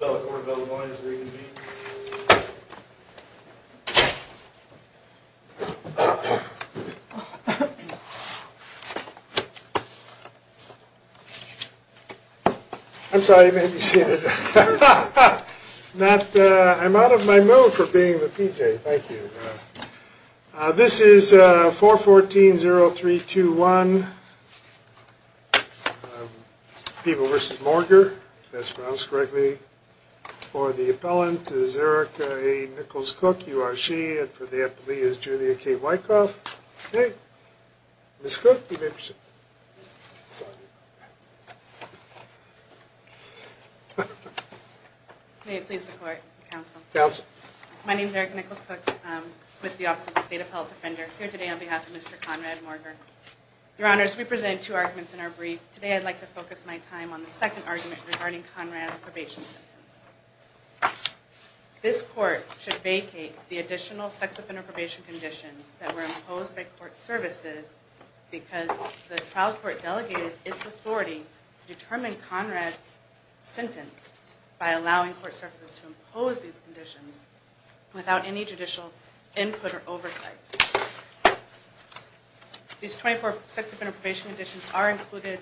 I'm sorry you made me sit. I'm out of my mood for being the PJ. Thank you. This is 414.0321 People v. Morger, if that's pronounced correctly. For the appellant is Erika A. Nichols-Cook, you are she, and for the appellee is Julia K. Wykoff. Ms. Cook, you made me sit. May it please the court, counsel. Counsel. My name is Erika Nichols-Cook. I'm with the Office of the State Appellate Defender. I'm here today on behalf of Mr. Conrad Morger. Your Honors, we presented two arguments in our brief. Today I'd like to focus my time on the second argument regarding Conrad's probation sentence. This court should vacate the additional sex offender probation conditions that were imposed by court services because the trial court delegated its authority to determine Conrad's sentence by allowing court services to impose these conditions without any judicial input or oversight. These 24 sex offender probation conditions are included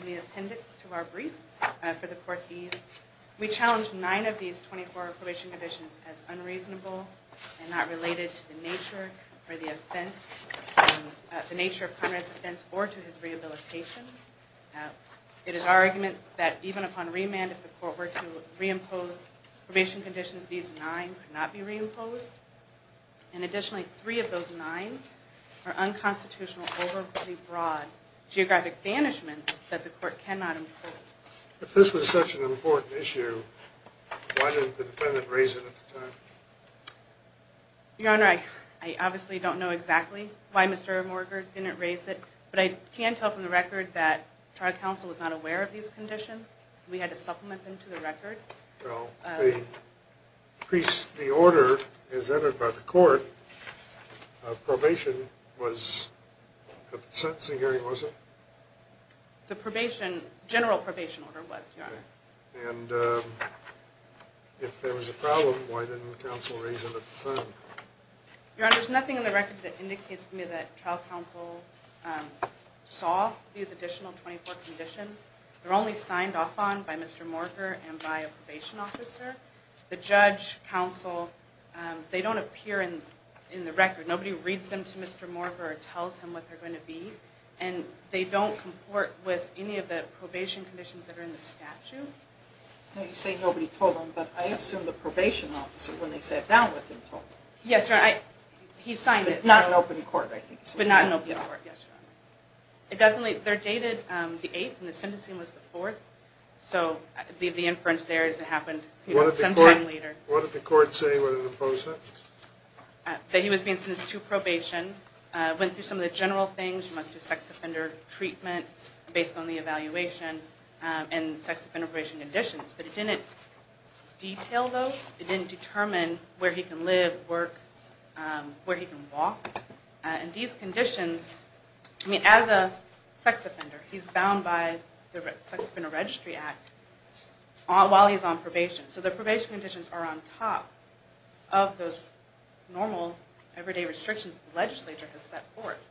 in the appendix to our brief for the court's ease. We challenge 9 of these 24 probation conditions as unreasonable and not related to the nature of Conrad's offense or to his rehabilitation. It is our argument that even upon remand if the court were to reimpose probation conditions, these 9 could not be reimposed. If this was such an important issue, why didn't the defendant raise it at the time? Your Honor, I obviously don't know exactly why Mr. Morger didn't raise it, but I can tell from the record that trial counsel was not aware of these conditions. We had to supplement them to the record. Well, the order is entered by the court. Probation was a sentencing hearing, was it? The probation, general probation order was, Your Honor. And if there was a problem, why didn't counsel raise it at the time? Your Honor, there's nothing in the record that indicates to me that trial counsel saw these additional 24 conditions. They're only signed off on by Mr. Morger and by a probation officer. The judge, counsel, they don't appear in the record. Nobody reads them to Mr. Morger or tells him what they're going to be. And they don't comport with any of the probation conditions that are in the statute. You say nobody told him, but I assume the probation officer, when they sat down with him, told him. Yes, Your Honor. He signed it. Not in open court, I think. But not in open court, yes, Your Honor. They're dated the 8th, and the sentencing was the 4th, so I'll leave the inference there as it happened sometime later. What did the court say when it imposed that? That he was being sentenced to probation, went through some of the general things. He must do sex offender treatment based on the evaluation and sex offender probation conditions. But it didn't detail those. It didn't determine where he can live, work, where he can walk. And these conditions, I mean, as a sex offender, he's bound by the Sex Offender Registry Act while he's on probation. So the probation conditions are on top of those normal, everyday restrictions the legislature has set forth.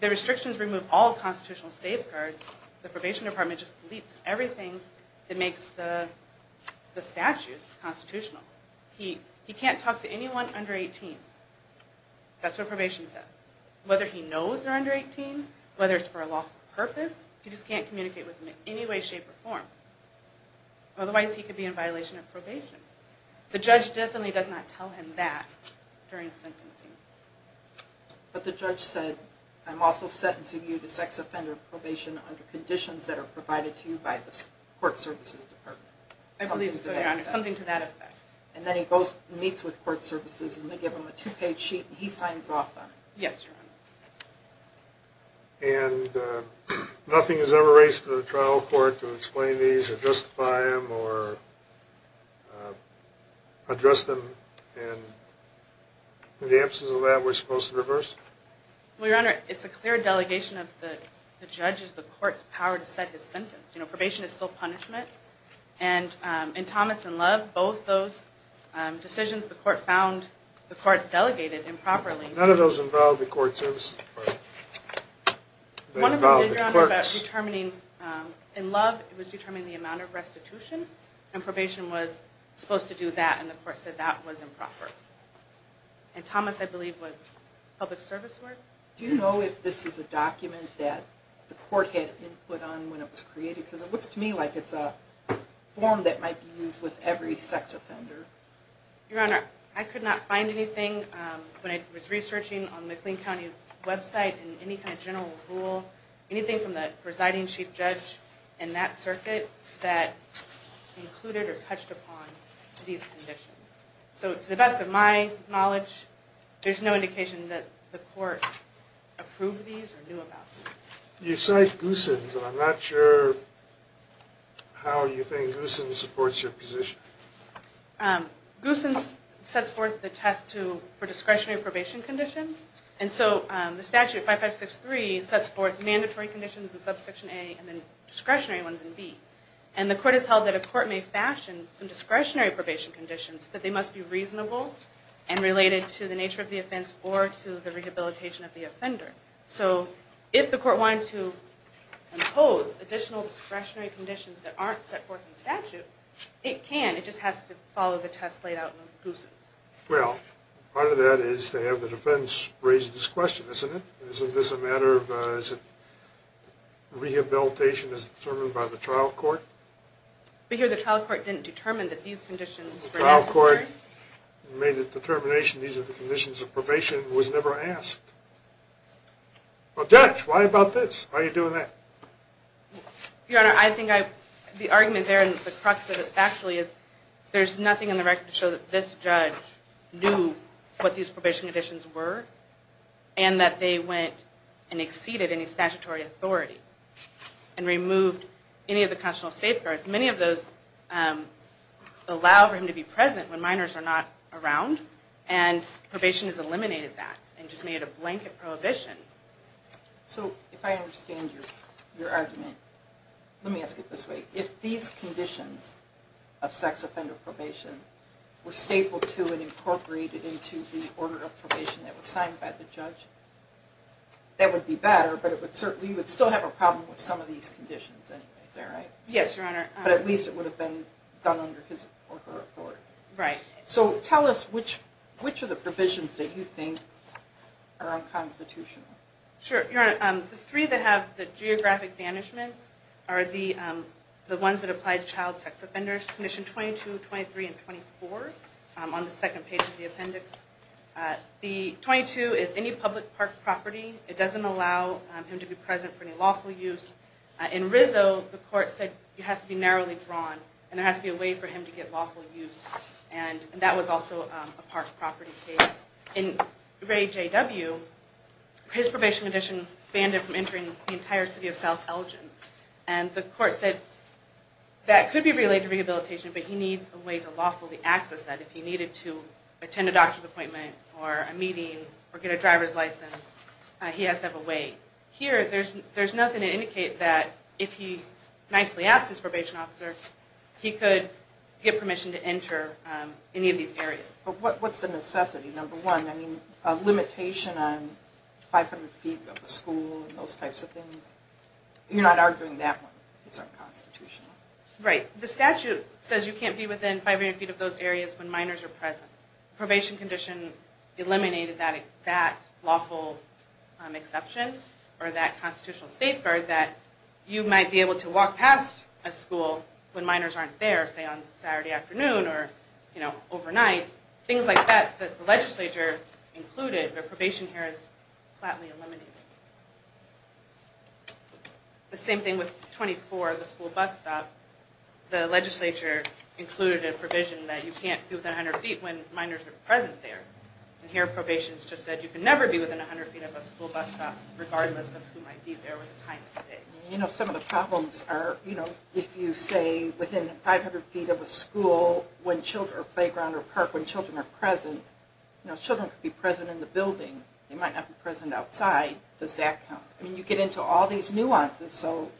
The restrictions remove all constitutional safeguards. The probation department just deletes everything that makes the statutes constitutional. He can't talk to anyone under 18. That's what probation says. Whether he knows they're under 18, whether it's for a lawful purpose, he just can't communicate with them in any way, shape, or form. Otherwise, he could be in violation of probation. The judge definitely does not tell him that during sentencing. But the judge said, I'm also sentencing you to sex offender probation under conditions that are provided to you by the court services department. I believe so, Your Honor. Something to that effect. And then he meets with court services and they give him a two-page sheet and he signs off on it. Yes, Your Honor. And nothing is ever raised to the trial court to explain these or justify them or address them? And in the absence of that, we're supposed to reverse it? Well, Your Honor, it's a clear delegation of the judge's, the court's power to set his sentence. You know, probation is still punishment. And in Thomas and Love, both those decisions, the court found, the court delegated improperly. None of those involve the court services department? One of them, Your Honor, was determining, in Love, it was determining the amount of restitution. And probation was supposed to do that and the court said that was improper. And Thomas, I believe, was public service work? Do you know if this is a document that the court had input on when it was created? Because it looks to me like it's a form that might be used with every sex offender. Your Honor, I could not find anything when I was researching on the McLean County website in any kind of general rule, anything from the residing chief judge in that circuit that included or touched upon these conditions. So, to the best of my knowledge, there's no indication that the court approved these or knew about them. You cite Goossens, but I'm not sure how you think Goossens supports your position. Goossens sets forth the test for discretionary probation conditions. And so the statute, 5563, sets forth mandatory conditions in Subsection A and discretionary ones in B. And the court has held that a court may fashion some discretionary probation conditions, but they must be reasonable and related to the nature of the offense or to the rehabilitation of the offender. So, if the court wanted to impose additional discretionary conditions that aren't set forth in statute, it can. It just has to follow the test laid out in Goossens. Well, part of that is to have the defense raise this question, isn't it? Rehabilitation is determined by the trial court? But here the trial court didn't determine that these conditions were necessary. The trial court made the determination these are the conditions of probation. It was never asked. Well, judge, why about this? Why are you doing that? Your Honor, I think the argument there and the crux of it actually is there's nothing in the record to show that this judge knew what these probation conditions were and that they went and exceeded any statutory authority and removed any of the constitutional safeguards. Many of those allow for him to be present when minors are not around, and probation has eliminated that and just made it a blanket prohibition. So, if I understand your argument, let me ask it this way. If these conditions of sex offender probation were stapled to and incorporated into the order of probation that was signed by the judge, that would be better, but we would still have a problem with some of these conditions anyway. Is that right? Yes, Your Honor. But at least it would have been done under his or her authority. Right. So, tell us which of the provisions that you think are unconstitutional. Sure, Your Honor. The three that have the geographic banishments are the ones that apply to child sex offenders, conditions 22, 23, and 24 on the second page of the appendix. The 22 is any public park property. It doesn't allow him to be present for any lawful use. In Rizzo, the court said it has to be narrowly drawn and there has to be a way for him to get lawful use, and that was also a park property case. In Ray J.W., his probation condition banned him from entering the entire city of South Elgin, and the court said that could be related to rehabilitation, but he needs a way to lawfully access that if he needed to attend a doctor's appointment or a meeting or get a driver's license, he has to have a way. Here, there's nothing to indicate that if he nicely asked his probation officer, he could get permission to enter any of these areas. What's the necessity, number one? I mean, a limitation on 500 feet of a school and those types of things? You're not arguing that one is unconstitutional? Right. The statute says you can't be within 500 feet of those areas when minors are present. Probation condition eliminated that lawful exception or that constitutional safeguard that you might be able to walk past a school when minors aren't there, say, on a Saturday afternoon or overnight. Things like that, the legislature included, but probation here is flatly eliminated. The same thing with 24, the school bus stop. The legislature included a provision that you can't be within 100 feet when minors are present there. Here, probation has just said you can never be within 100 feet of a school bus stop You know, some of the problems are, you know, if you say within 500 feet of a school or playground or park when children are present, you know, children could be present in the building. They might not be present outside. Does that count? I mean, you get into all these nuances, so,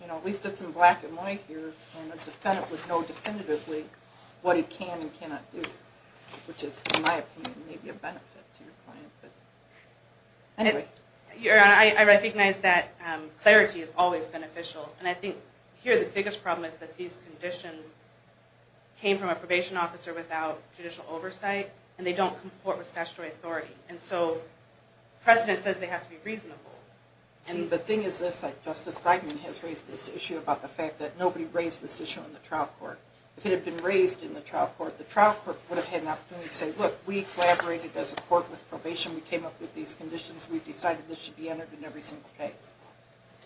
you know, at least it's in black and white here and a defendant would know definitively what he can and cannot do, which is, in my opinion, maybe a benefit to your client. Anyway. Your Honor, I recognize that clarity is always beneficial, and I think here the biggest problem is that these conditions came from a probation officer without judicial oversight, and they don't comport with statutory authority. And so precedent says they have to be reasonable. And the thing is this, like, Justice Geigman has raised this issue about the fact that nobody raised this issue in the trial court. If it had been raised in the trial court, the trial court would have had an opportunity to say, look, we collaborated as a court with probation. We came up with these conditions. We decided this should be entered in every single case.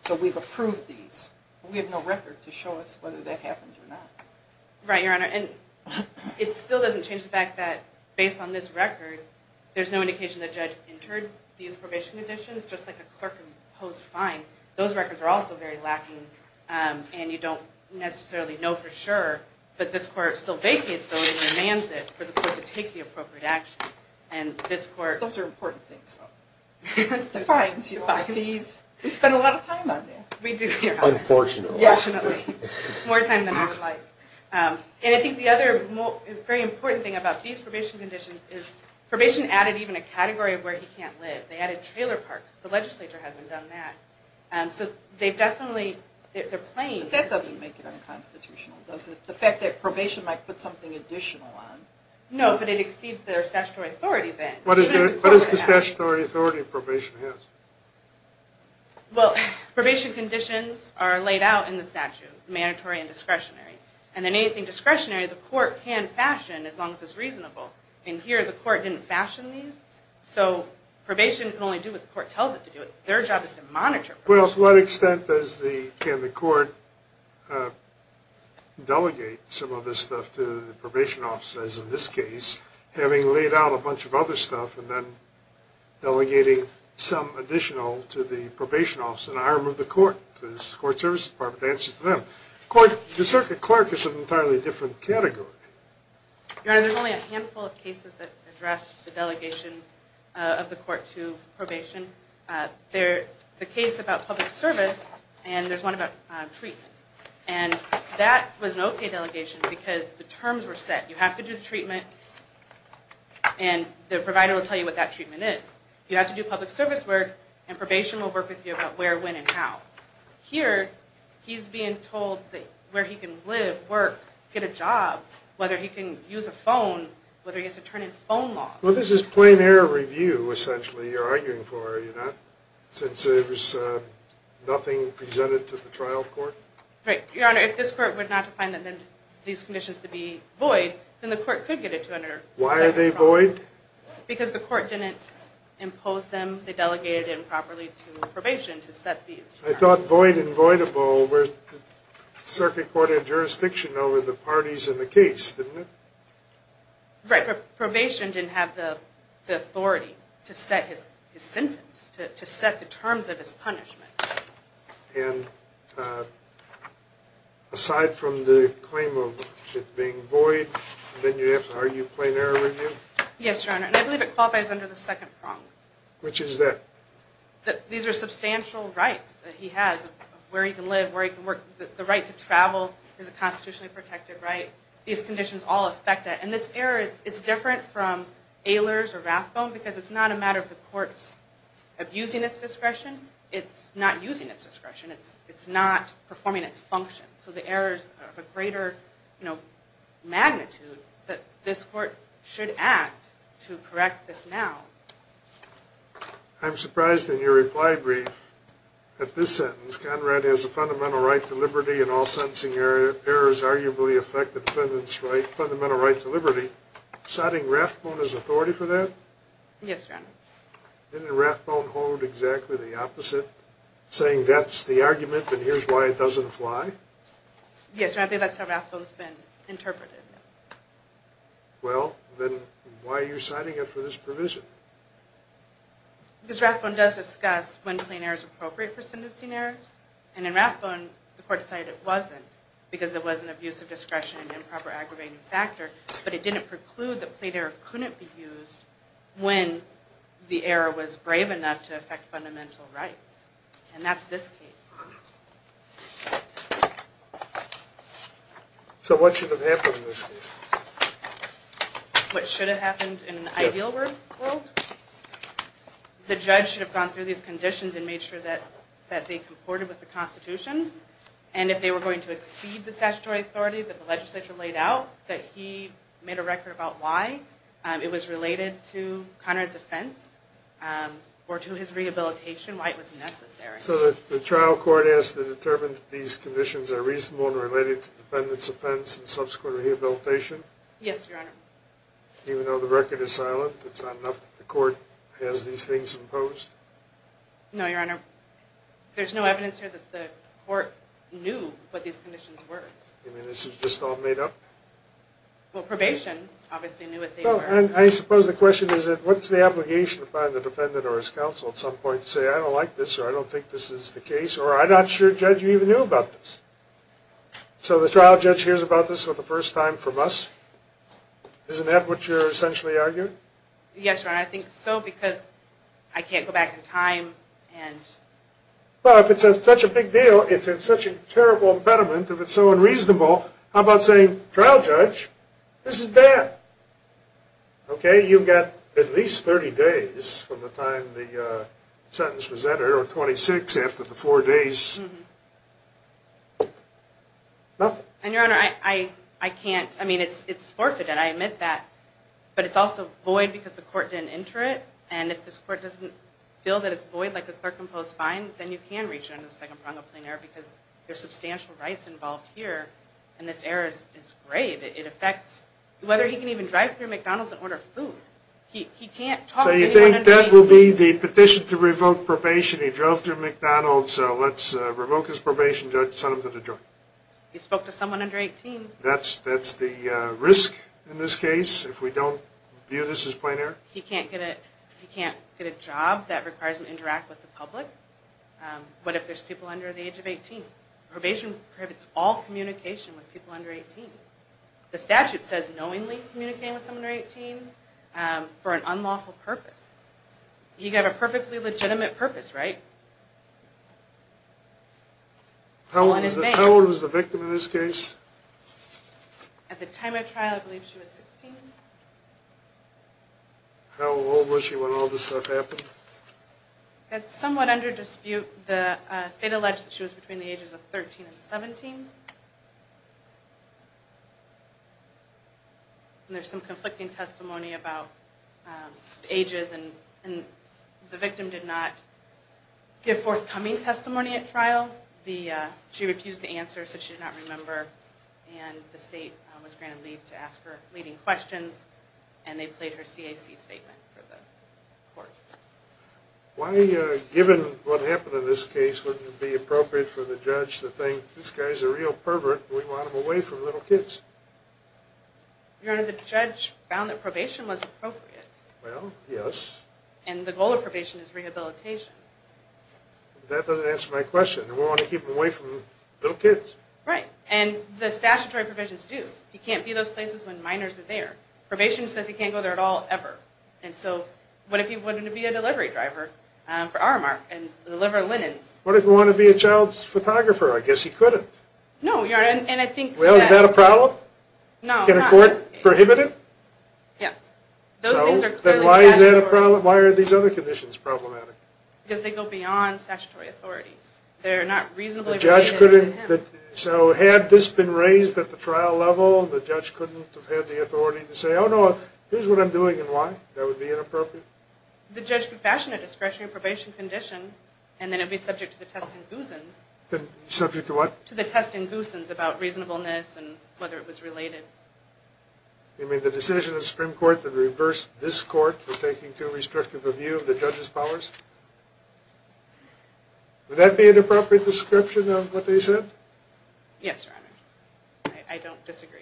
So we've approved these. We have no record to show us whether that happened or not. Right, Your Honor. And it still doesn't change the fact that based on this record, there's no indication the judge entered these probation conditions, just like a clerk can pose a fine. Those records are also very lacking, and you don't necessarily know for sure. But this court still vacates those and demands it for the court to take the appropriate action. Those are important things, though. The fines, your fees. We spend a lot of time on that. We do, Your Honor. Unfortunately. More time than I would like. And I think the other very important thing about these probation conditions is probation added even a category of where he can't live. They added trailer parks. The legislature hasn't done that. So they've definitely, they're playing. But that doesn't make it unconstitutional, does it? The fact that probation might put something additional on. No, but it exceeds their statutory authority then. What is the statutory authority probation has? Well, probation conditions are laid out in the statute, mandatory and discretionary. And anything discretionary, the court can fashion as long as it's reasonable. And here, the court didn't fashion these. So probation can only do what the court tells it to do. Their job is to monitor probation. Well, to what extent does the, can the court delegate some of this stuff to the probation office, as in this case, having laid out a bunch of other stuff and then delegating some additional to the probation office, an arm of the court, the Court Services Department, to answer to them? The circuit clerk is an entirely different category. Your Honor, there's only a handful of cases that address the delegation of the court to probation. There's a case about public service, and there's one about treatment. And that was an okay delegation because the terms were set. You have to do the treatment, and the provider will tell you what that treatment is. You have to do public service work, and probation will work with you about where, when, and how. Here, he's being told where he can live, work, get a job, whether he can use a phone, whether he has to turn in phone logs. Well, this is plain error review, essentially, you're arguing for, are you not? Since there was nothing presented to the trial court? Right. Your Honor, if this court were not to find these conditions to be void, then the court could get it to under- Why are they void? Because the court didn't impose them. They delegated it improperly to probation to set these. I thought void and voidable were circuit court and jurisdiction over the parties in the case, didn't it? Right, but probation didn't have the authority to set his sentence, to set the terms of his punishment. And aside from the claim of it being void, then you have, are you plain error review? Yes, Your Honor, and I believe it qualifies under the second prong. Which is that? These are substantial rights that he has, where he can live, where he can work. The right to travel is a constitutionally protected right. These conditions all affect that. And this error is different from Ehlers or Rathbone, because it's not a matter of the courts abusing its discretion. It's not using its discretion. It's not performing its function. So the errors are of a greater magnitude that this court should act to correct this now. I'm surprised in your reply brief that this sentence, Conrad has a fundamental right to liberty in all sentencing errors, which does arguably affect the defendant's fundamental right to liberty. Citing Rathbone as authority for that? Yes, Your Honor. Didn't Rathbone hold exactly the opposite, saying that's the argument and here's why it doesn't fly? Yes, Your Honor, I think that's how Rathbone's been interpreted. Well, then why are you citing it for this provision? Because Rathbone does discuss when plain error is appropriate for sentencing errors. And in Rathbone, the court decided it wasn't, because there was an abuse of discretion and improper aggravating factor, but it didn't preclude that plain error couldn't be used when the error was brave enough to affect fundamental rights. And that's this case. So what should have happened in this case? What should have happened in an ideal world? The judge should have gone through these conditions and made sure that they comported with the Constitution. And if they were going to exceed the statutory authority that the legislature laid out, that he made a record about why it was related to Conrad's offense or to his rehabilitation, why it was necessary. So the trial court has to determine that these conditions are reasonable and related to the defendant's offense and subsequent rehabilitation? Yes, Your Honor. Even though the record is silent, it's not enough that the court has these things imposed? No, Your Honor. There's no evidence here that the court knew what these conditions were. You mean this was just all made up? Well, probation obviously knew what they were. I suppose the question is what's the obligation upon the defendant or his counsel at some point to say, I don't like this or I don't think this is the case or I'm not sure, Judge, you even knew about this? So the trial judge hears about this for the first time from us? Isn't that what you're essentially arguing? Yes, Your Honor. I think so because I can't go back in time and... Well, if it's such a big deal, if it's such a terrible impediment, if it's so unreasonable, how about saying, trial judge, this is bad. Okay? You've got at least 30 days from the time the sentence was entered or 26 after the four days. Nothing. And, Your Honor, I can't, I mean, it's forfeited, I admit that, but it's also void because the court didn't enter it, and if this court doesn't feel that it's void, like the clerk imposed fine, then you can reach under the second prong of plain error because there are substantial rights involved here, and this error is grave. It affects whether he can even drive through McDonald's and order food. He can't talk to anyone under 18. So you think that will be the petition to revoke probation? He drove through McDonald's, so let's revoke his probation, Judge, send him to the jury. He spoke to someone under 18. That's the risk in this case if we don't view this as plain error? He can't get a job that requires him to interact with the public. What if there's people under the age of 18? Probation prohibits all communication with people under 18. The statute says knowingly communicate with someone under 18 for an unlawful purpose. He could have a perfectly legitimate purpose, right? How old is the victim in this case? At the time of trial, I believe she was 16. How old was she when all this stuff happened? That's somewhat under dispute. The state alleged that she was between the ages of 13 and 17. There's some conflicting testimony about ages, and the victim did not give forthcoming testimony at trial. She refused to answer, so she did not remember, and the state was granted leave to ask her leading questions, and they played her CAC statement for the court. Why, given what happened in this case, wouldn't it be appropriate for the judge to think, this guy's a real pervert, and we want him away from little kids? Your Honor, the judge found that probation was appropriate. Well, yes. And the goal of probation is rehabilitation. That doesn't answer my question. We want to keep him away from little kids. Right, and the statutory provisions do. He can't be in those places when minors are there. Probation says he can't go there at all, ever, and so what if he wanted to be a delivery driver for Aramark and deliver linens? What if he wanted to be a child's photographer? I guess he couldn't. No, Your Honor, and I think that... Well, is that a problem? No, not in this case. Can a court prohibit it? Yes. Then why are these other conditions problematic? Because they go beyond statutory authority. They're not reasonably related to him. So had this been raised at the trial level, the judge couldn't have had the authority to say, oh, no, here's what I'm doing and why. That would be inappropriate? The judge could fashion a discretionary probation condition, and then it would be subject to the testing goosens. Subject to what? To the testing goosens about reasonableness and whether it was related. You mean the decision of the Supreme Court that reversed this court for taking too restrictive a view of the judge's powers? Would that be an inappropriate description of what they said? Yes, Your Honor. I don't disagree.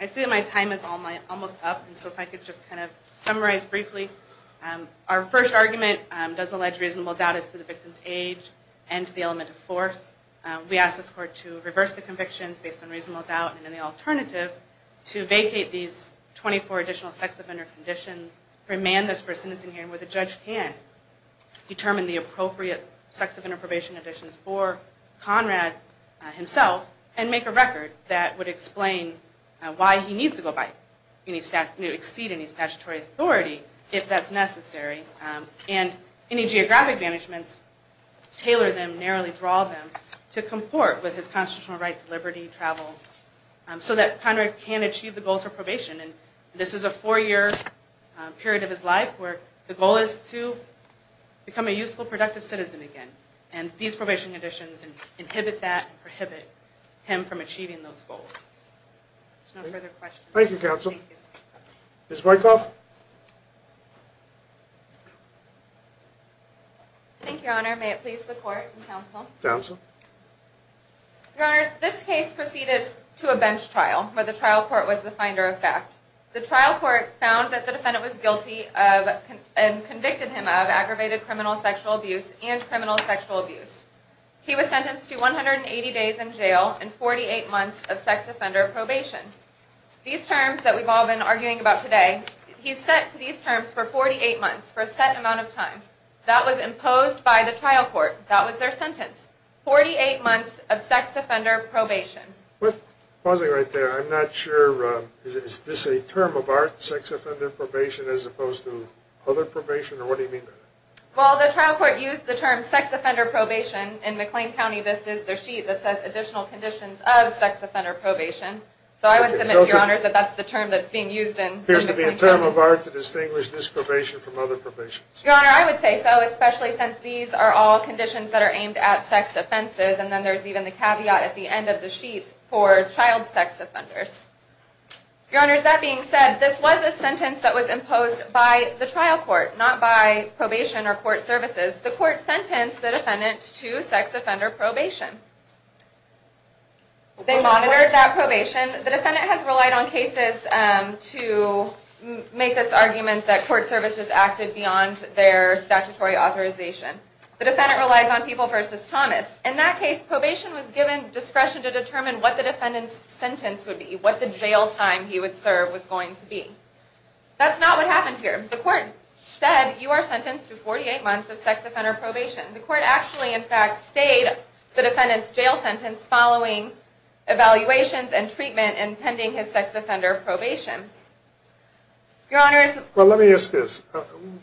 I see that my time is almost up, and so if I could just kind of summarize briefly. Our first argument does allege reasonable doubt as to the victim's age and to the element of force. We ask this court to reverse the convictions based on reasonable doubt, and then the alternative, to vacate these 24 additional sex offender conditions, remand this for a sentencing hearing where the judge can determine the appropriate sex offender probation conditions for Conrad himself, and make a record that would explain why he needs to exceed any statutory authority if that's necessary. And any geographic managements, tailor them, narrowly draw them, to comport with his constitutional right to liberty, travel, so that Conrad can achieve the goals of probation. And this is a four-year period of his life where the goal is to become a useful, productive citizen again. And these probation conditions inhibit that, prohibit him from achieving those goals. There's no further questions. Thank you, counsel. Ms. Wyckoff? Thank you, Your Honor. May it please the court and counsel. Counsel? Your Honors, this case proceeded to a bench trial where the trial court was the finder of fact. The trial court found that the defendant was guilty of, and convicted him of, aggravated criminal sexual abuse and criminal sexual abuse. He was sentenced to 180 days in jail and 48 months of sex offender probation. These terms that we've all been arguing about today, he's set to these terms for 48 months, for a set amount of time. That was imposed by the trial court. That was their sentence. 48 months of sex offender probation. Pausing right there, I'm not sure, is this a term of art, sex offender probation, as opposed to other probation, or what do you mean by that? Well, the trial court used the term sex offender probation. In McLean County, this is their sheet that says additional conditions of sex offender probation. So I would submit, Your Honors, that that's the term that's being used in McLean County. It appears to be a term of art to distinguish this probation from other probation. Your Honor, I would say so, especially since these are all conditions that are aimed at sex offenses, and then there's even the caveat at the end of the sheet for child sex offenders. Your Honors, that being said, this was a sentence that was imposed by the trial court, not by probation or court services. The court sentenced the defendant to sex offender probation. They monitored that probation. The defendant has relied on cases to make this argument that court services acted beyond their statutory authorization. The defendant relies on People v. Thomas. In that case, probation was given discretion to determine what the defendant's sentence would be, what the jail time he would serve was going to be. That's not what happened here. The court said, You are sentenced to 48 months of sex offender probation. The court actually, in fact, stayed the defendant's jail sentence following evaluations and treatment and pending his sex offender probation. Your Honors... Well, let me ask this.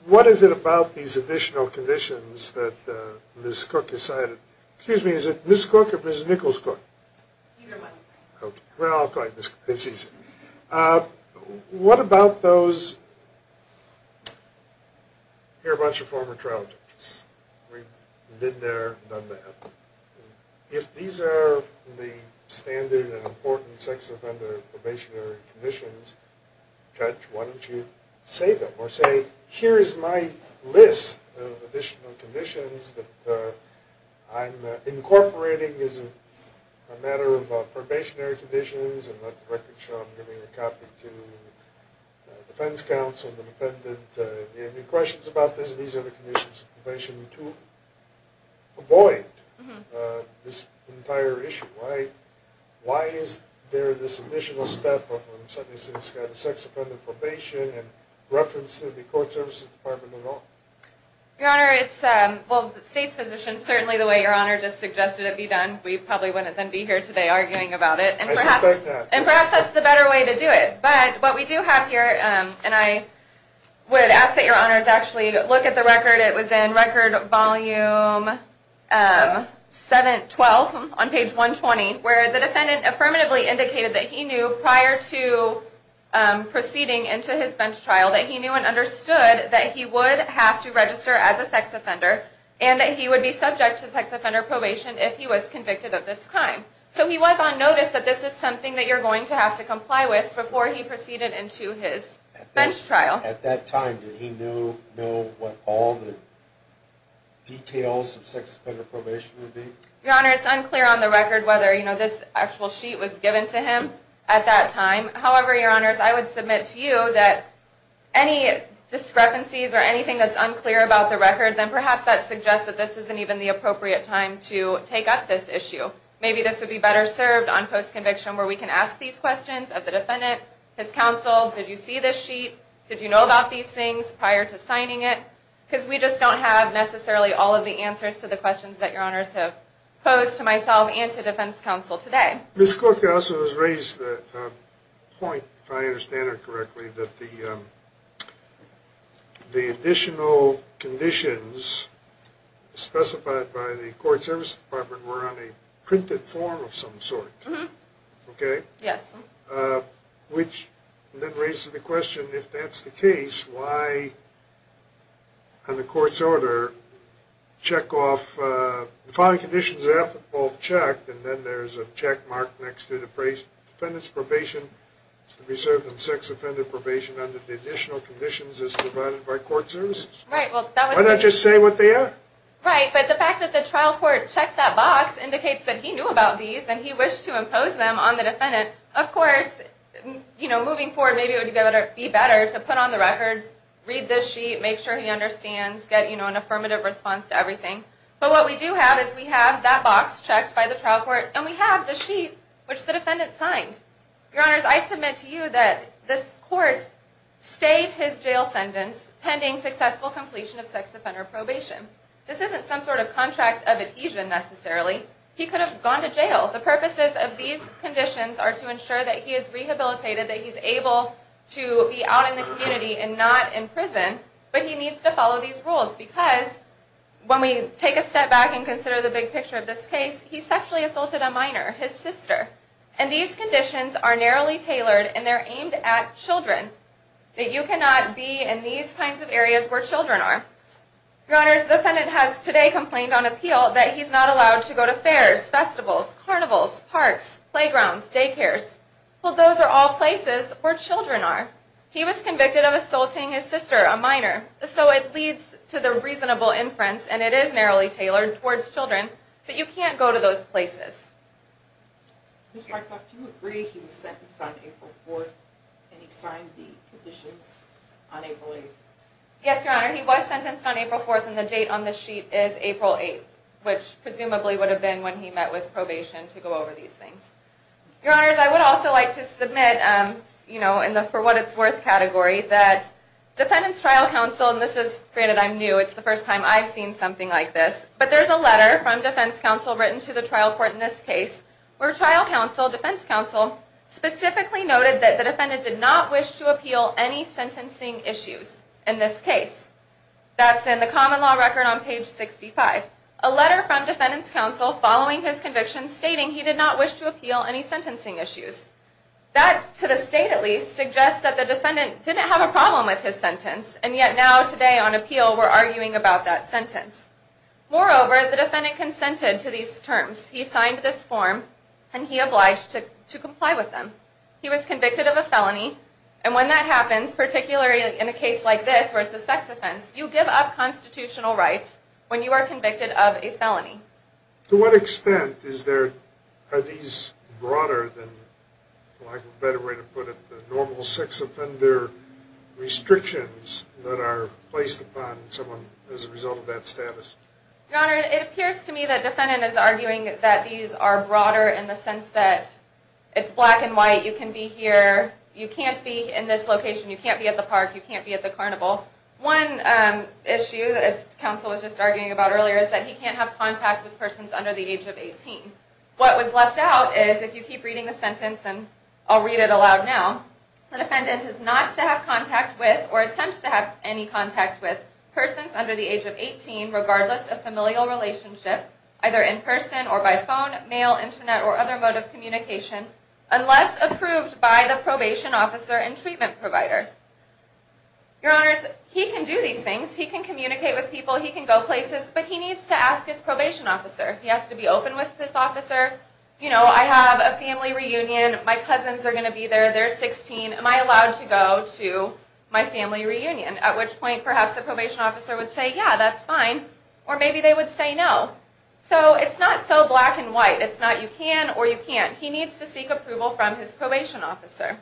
What is it about these additional conditions that Ms. Cook has cited? Excuse me, is it Ms. Cook or Ms. Nichols-Cook? Neither one. Okay, well, it's easy. What about those... Here are a bunch of former trial judges. We've been there, done that. If these are the standard and important sex offender probationary conditions, Judge, why don't you say them or say, Here is my list of additional conditions that I'm incorporating as a matter of probationary conditions and let the record show I'm giving a copy to the defense counsel and the defendant. Do you have any questions about this? These are the conditions of probation. To avoid this entire issue, why is there this additional step of sex offender probation in reference to the Court Services Department alone? Your Honor, it's... Well, the State's position, certainly the way Your Honor just suggested it be done, we probably wouldn't then be here today arguing about it. I suspect that. And perhaps that's the better way to do it. But what we do have here, and I would ask that Your Honors actually look at the record. It was in Record Volume 12 on page 120, where the defendant affirmatively indicated that he knew prior to proceeding into his bench trial that he knew and understood that he would have to register as a sex offender and that he would be subject to sex offender probation if he was convicted of this crime. So he was on notice that this is something that you're going to have to comply with before he proceeded into his bench trial. At that time, did he know what all the details of sex offender probation would be? Your Honor, it's unclear on the record whether this actual sheet was given to him at that time. However, Your Honors, I would submit to you that any discrepancies or anything that's unclear about the record, then perhaps that suggests that this isn't even the appropriate time to take up this issue. Maybe this would be better served on post-conviction where we can ask these questions of the defendant, his counsel, did you see this sheet, did you know about these things prior to signing it? Because we just don't have necessarily all of the answers to the questions that Your Honors have posed to myself and to defense counsel today. Ms. Corker also has raised the point, if I understand her correctly, that the additional conditions specified by the Court Services Department were on a printed form of some sort. Mm-hmm. Okay? Yes. Which then raises the question, if that's the case, why on the Court's order check off the following conditions that have to be both checked, and then there's a checkmark next to the defendant's probation to be served on sex-offended probation under the additional conditions as provided by Court Services? Right. Why not just say what they are? Right. But the fact that the trial court checked that box indicates that he knew about these and he wished to impose them on the defendant. Of course, moving forward, maybe it would be better to put on the record, read this sheet, make sure he understands, get an affirmative response to everything. But what we do have is we have that box checked by the trial court and we have the sheet which the defendant signed. Your Honors, I submit to you that this court stayed his jail sentence pending successful completion of sex-offender probation. This isn't some sort of contract of adhesion necessarily. He could have gone to jail. The purposes of these conditions are to ensure that he is rehabilitated, that he's able to be out in the community and not in prison. But he needs to follow these rules because when we take a step back and consider the big picture of this case, he sexually assaulted a minor, his sister. And these conditions are narrowly tailored and they're aimed at children. That you cannot be in these kinds of areas where children are. Your Honors, the defendant has today complained on appeal that he's not allowed to go to fairs, festivals, carnivals, parks, playgrounds, daycares. Well, those are all places where children are. He was convicted of assaulting his sister, a minor. So it leads to the reasonable inference and it is narrowly tailored towards children. But you can't go to those places. Ms. Markoff, do you agree he was sentenced on April 4th and he signed the conditions on April 8th? Yes, Your Honor. He was sentenced on April 4th and the date on the sheet is April 8th, which presumably would have been when he met with probation to go over these things. Your Honors, I would also like to submit in the for what it's worth category that Defendant's Trial Counsel, and this is, granted I'm new, it's the first time I've seen something like this, but there's a letter from Defense Counsel written to the trial court in this case where Trial Counsel, Defense Counsel, specifically noted that the defendant did not wish to appeal any sentencing issues in this case. That's in the following his conviction stating he did not wish to appeal any sentencing issues. That, to the state at least, suggests that the defendant didn't have a problem with his sentence and yet now today on appeal we're arguing about that sentence. Moreover, the defendant consented to these terms. He signed this form and he obliged to comply with them. He was convicted of a felony and when that happens, particularly in a case like this where it's a sex offense, you give up constitutional rights when you are convicted of a felony. To what extent is there, are these broader than, like a better way to put it, the normal sex offender restrictions that are placed upon someone as a result of that status? Your Honor, it appears to me that the defendant is arguing that these are broader in the sense that it's black and white, you can be here, you can't be in this location, you can't be at the park, you can't be at the carnival. One issue that counsel was just arguing about earlier is that he can't have contact with persons under the age of 18. What was left out is, if you keep reading the sentence and I'll read it aloud now, the defendant is not to have contact with or attempt to have any contact with persons under the age of 18 regardless of familial relationship, either in person or by phone, mail, internet, or other mode of communication unless approved by the probation officer and treatment provider. Your honors, he can do these things, he can communicate with people, he can go places, but he needs to ask his probation officer if he has to be open with this officer, you know, I have a family reunion, my cousins are going to be there, they're 16, am I allowed to go to my family reunion? At which point, perhaps the probation officer would say, yeah, that's fine, or maybe they would say no. So it's not so black and white, it's not you can or you can't. He needs to seek approval from his probation officer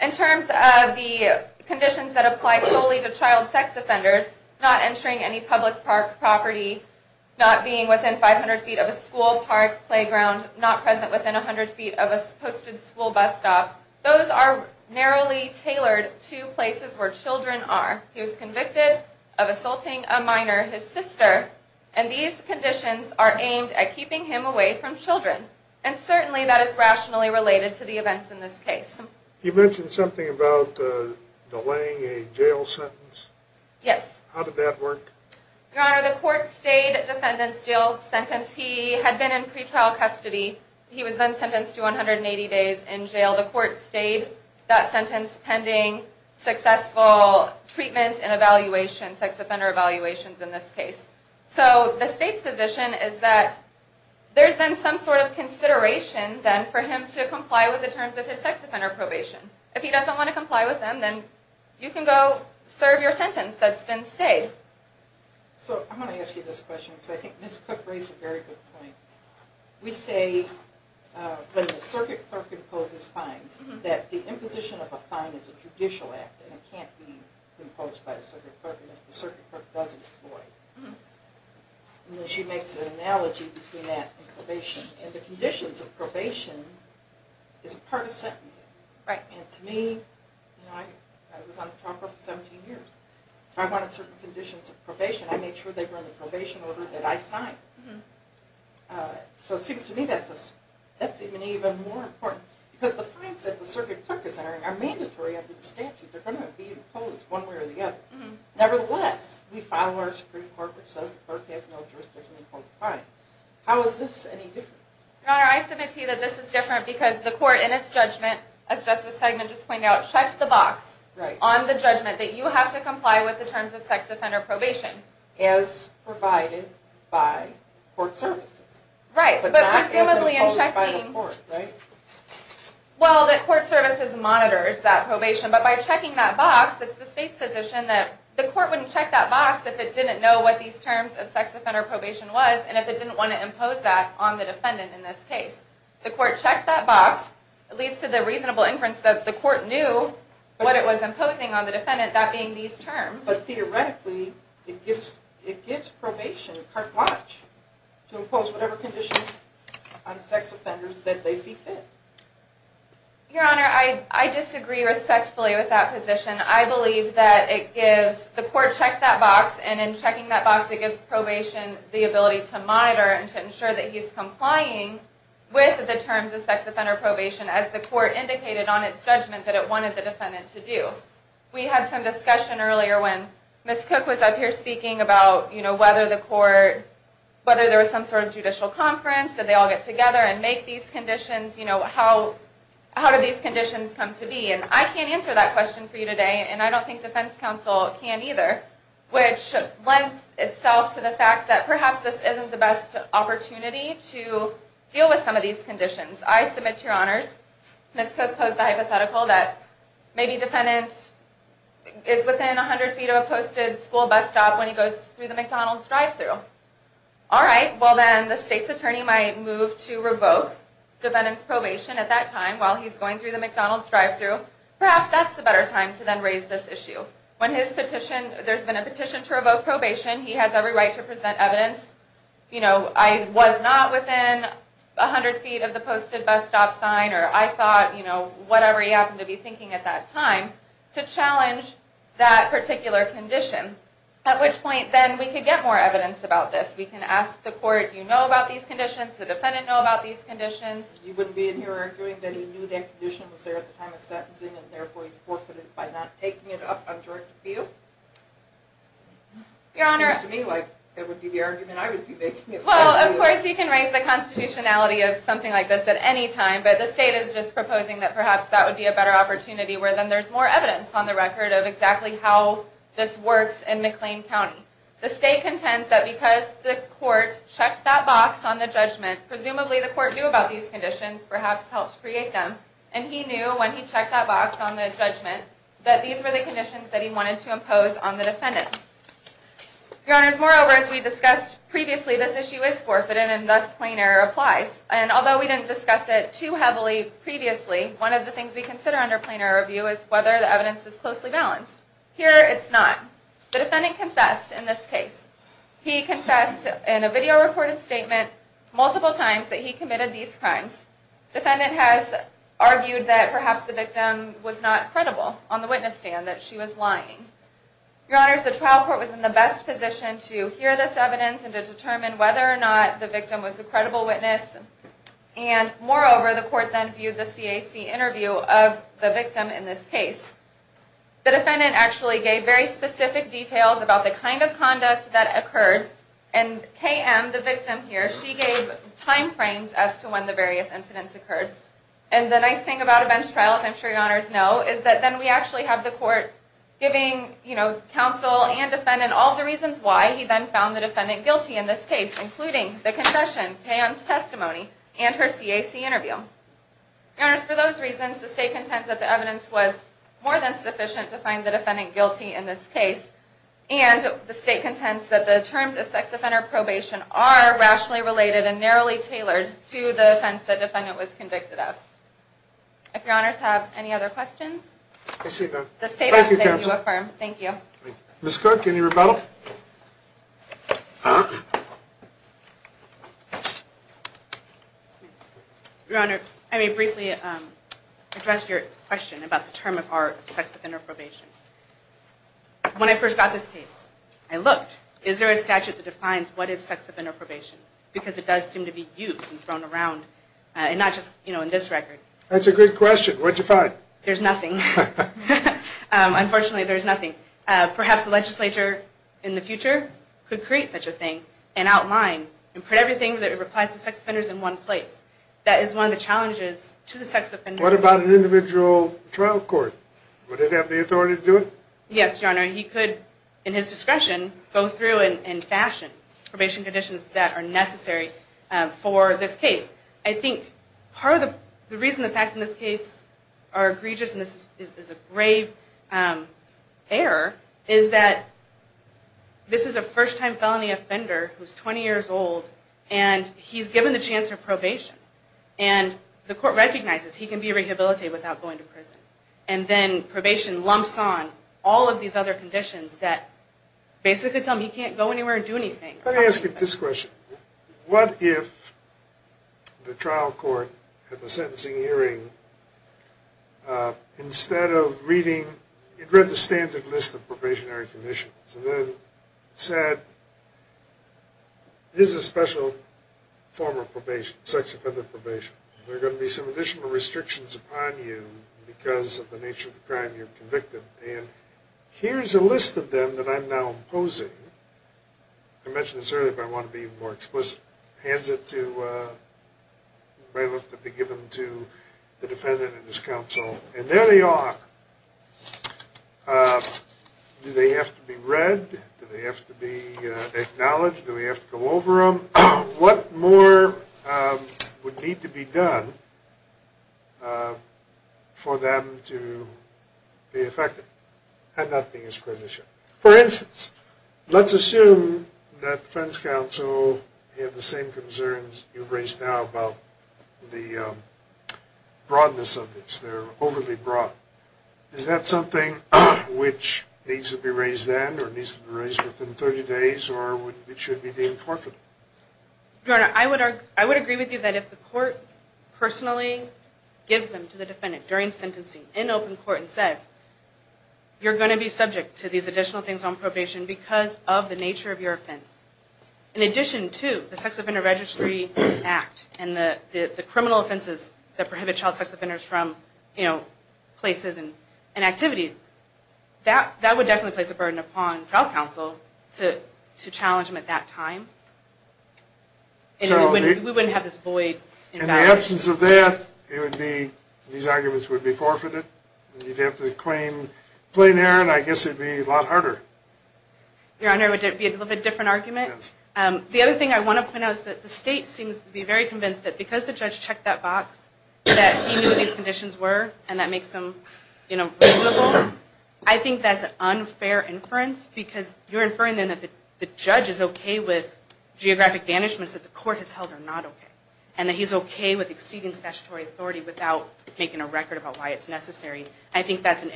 and treatment provider. He needs to I have a family reunion, perhaps the probation officer would say, yeah, that's fine, or maybe they would say no. So it's not so black and white, it's not you can or you can't. He needs to seek approval from his probation officer and treatment So was the court delaying a jail sentence? Yes. How did that work? Your Honor, the court stayed defendant's jail sentence. He had been in pre-trial custody. He was then sentenced to 180 days in jail. The court stayed that sentence pending successful treatment and evaluation, sex offender evaluations in this case. So the state's position is that there's then some sort of consideration then for him to comply with the terms of his sex offender probation. If he doesn't want to comply with them, then you can go serve your sentence that's been stayed. So I want to ask you this question because I think Ms. Cook raised a very good point. We say when the circuit clerk imposes fines that the imposition of a fine is a judicial act and it can't be imposed by the circuit clerk and if the circuit clerk doesn't employ the circuit then the circuit clerk has to pay the fine. And she makes an analogy between that and probation. And the conditions of probation is part of sentencing. And to me, I was on the trial court for 17 years. If I wanted certain conditions of probation, I made sure they were in the probation order that I had. If I wanted certain conditions court had condition order. And if certain conditions for probation I made sure that they were in the condition order. And the court has no jurisdiction to impose fines. And that is not what these terms of sex offender probation was. And if it didn't want to impose that on the defendant in this case, the court checked that box. It leads to the reasonable inference that the court knew what it was imposing on the defendant, that being these terms. But theoretically it gives probation to impose whatever conditions on sex offenders that they see fit. Your Honor, I disagree respectfully with that position. I believe that it gives the court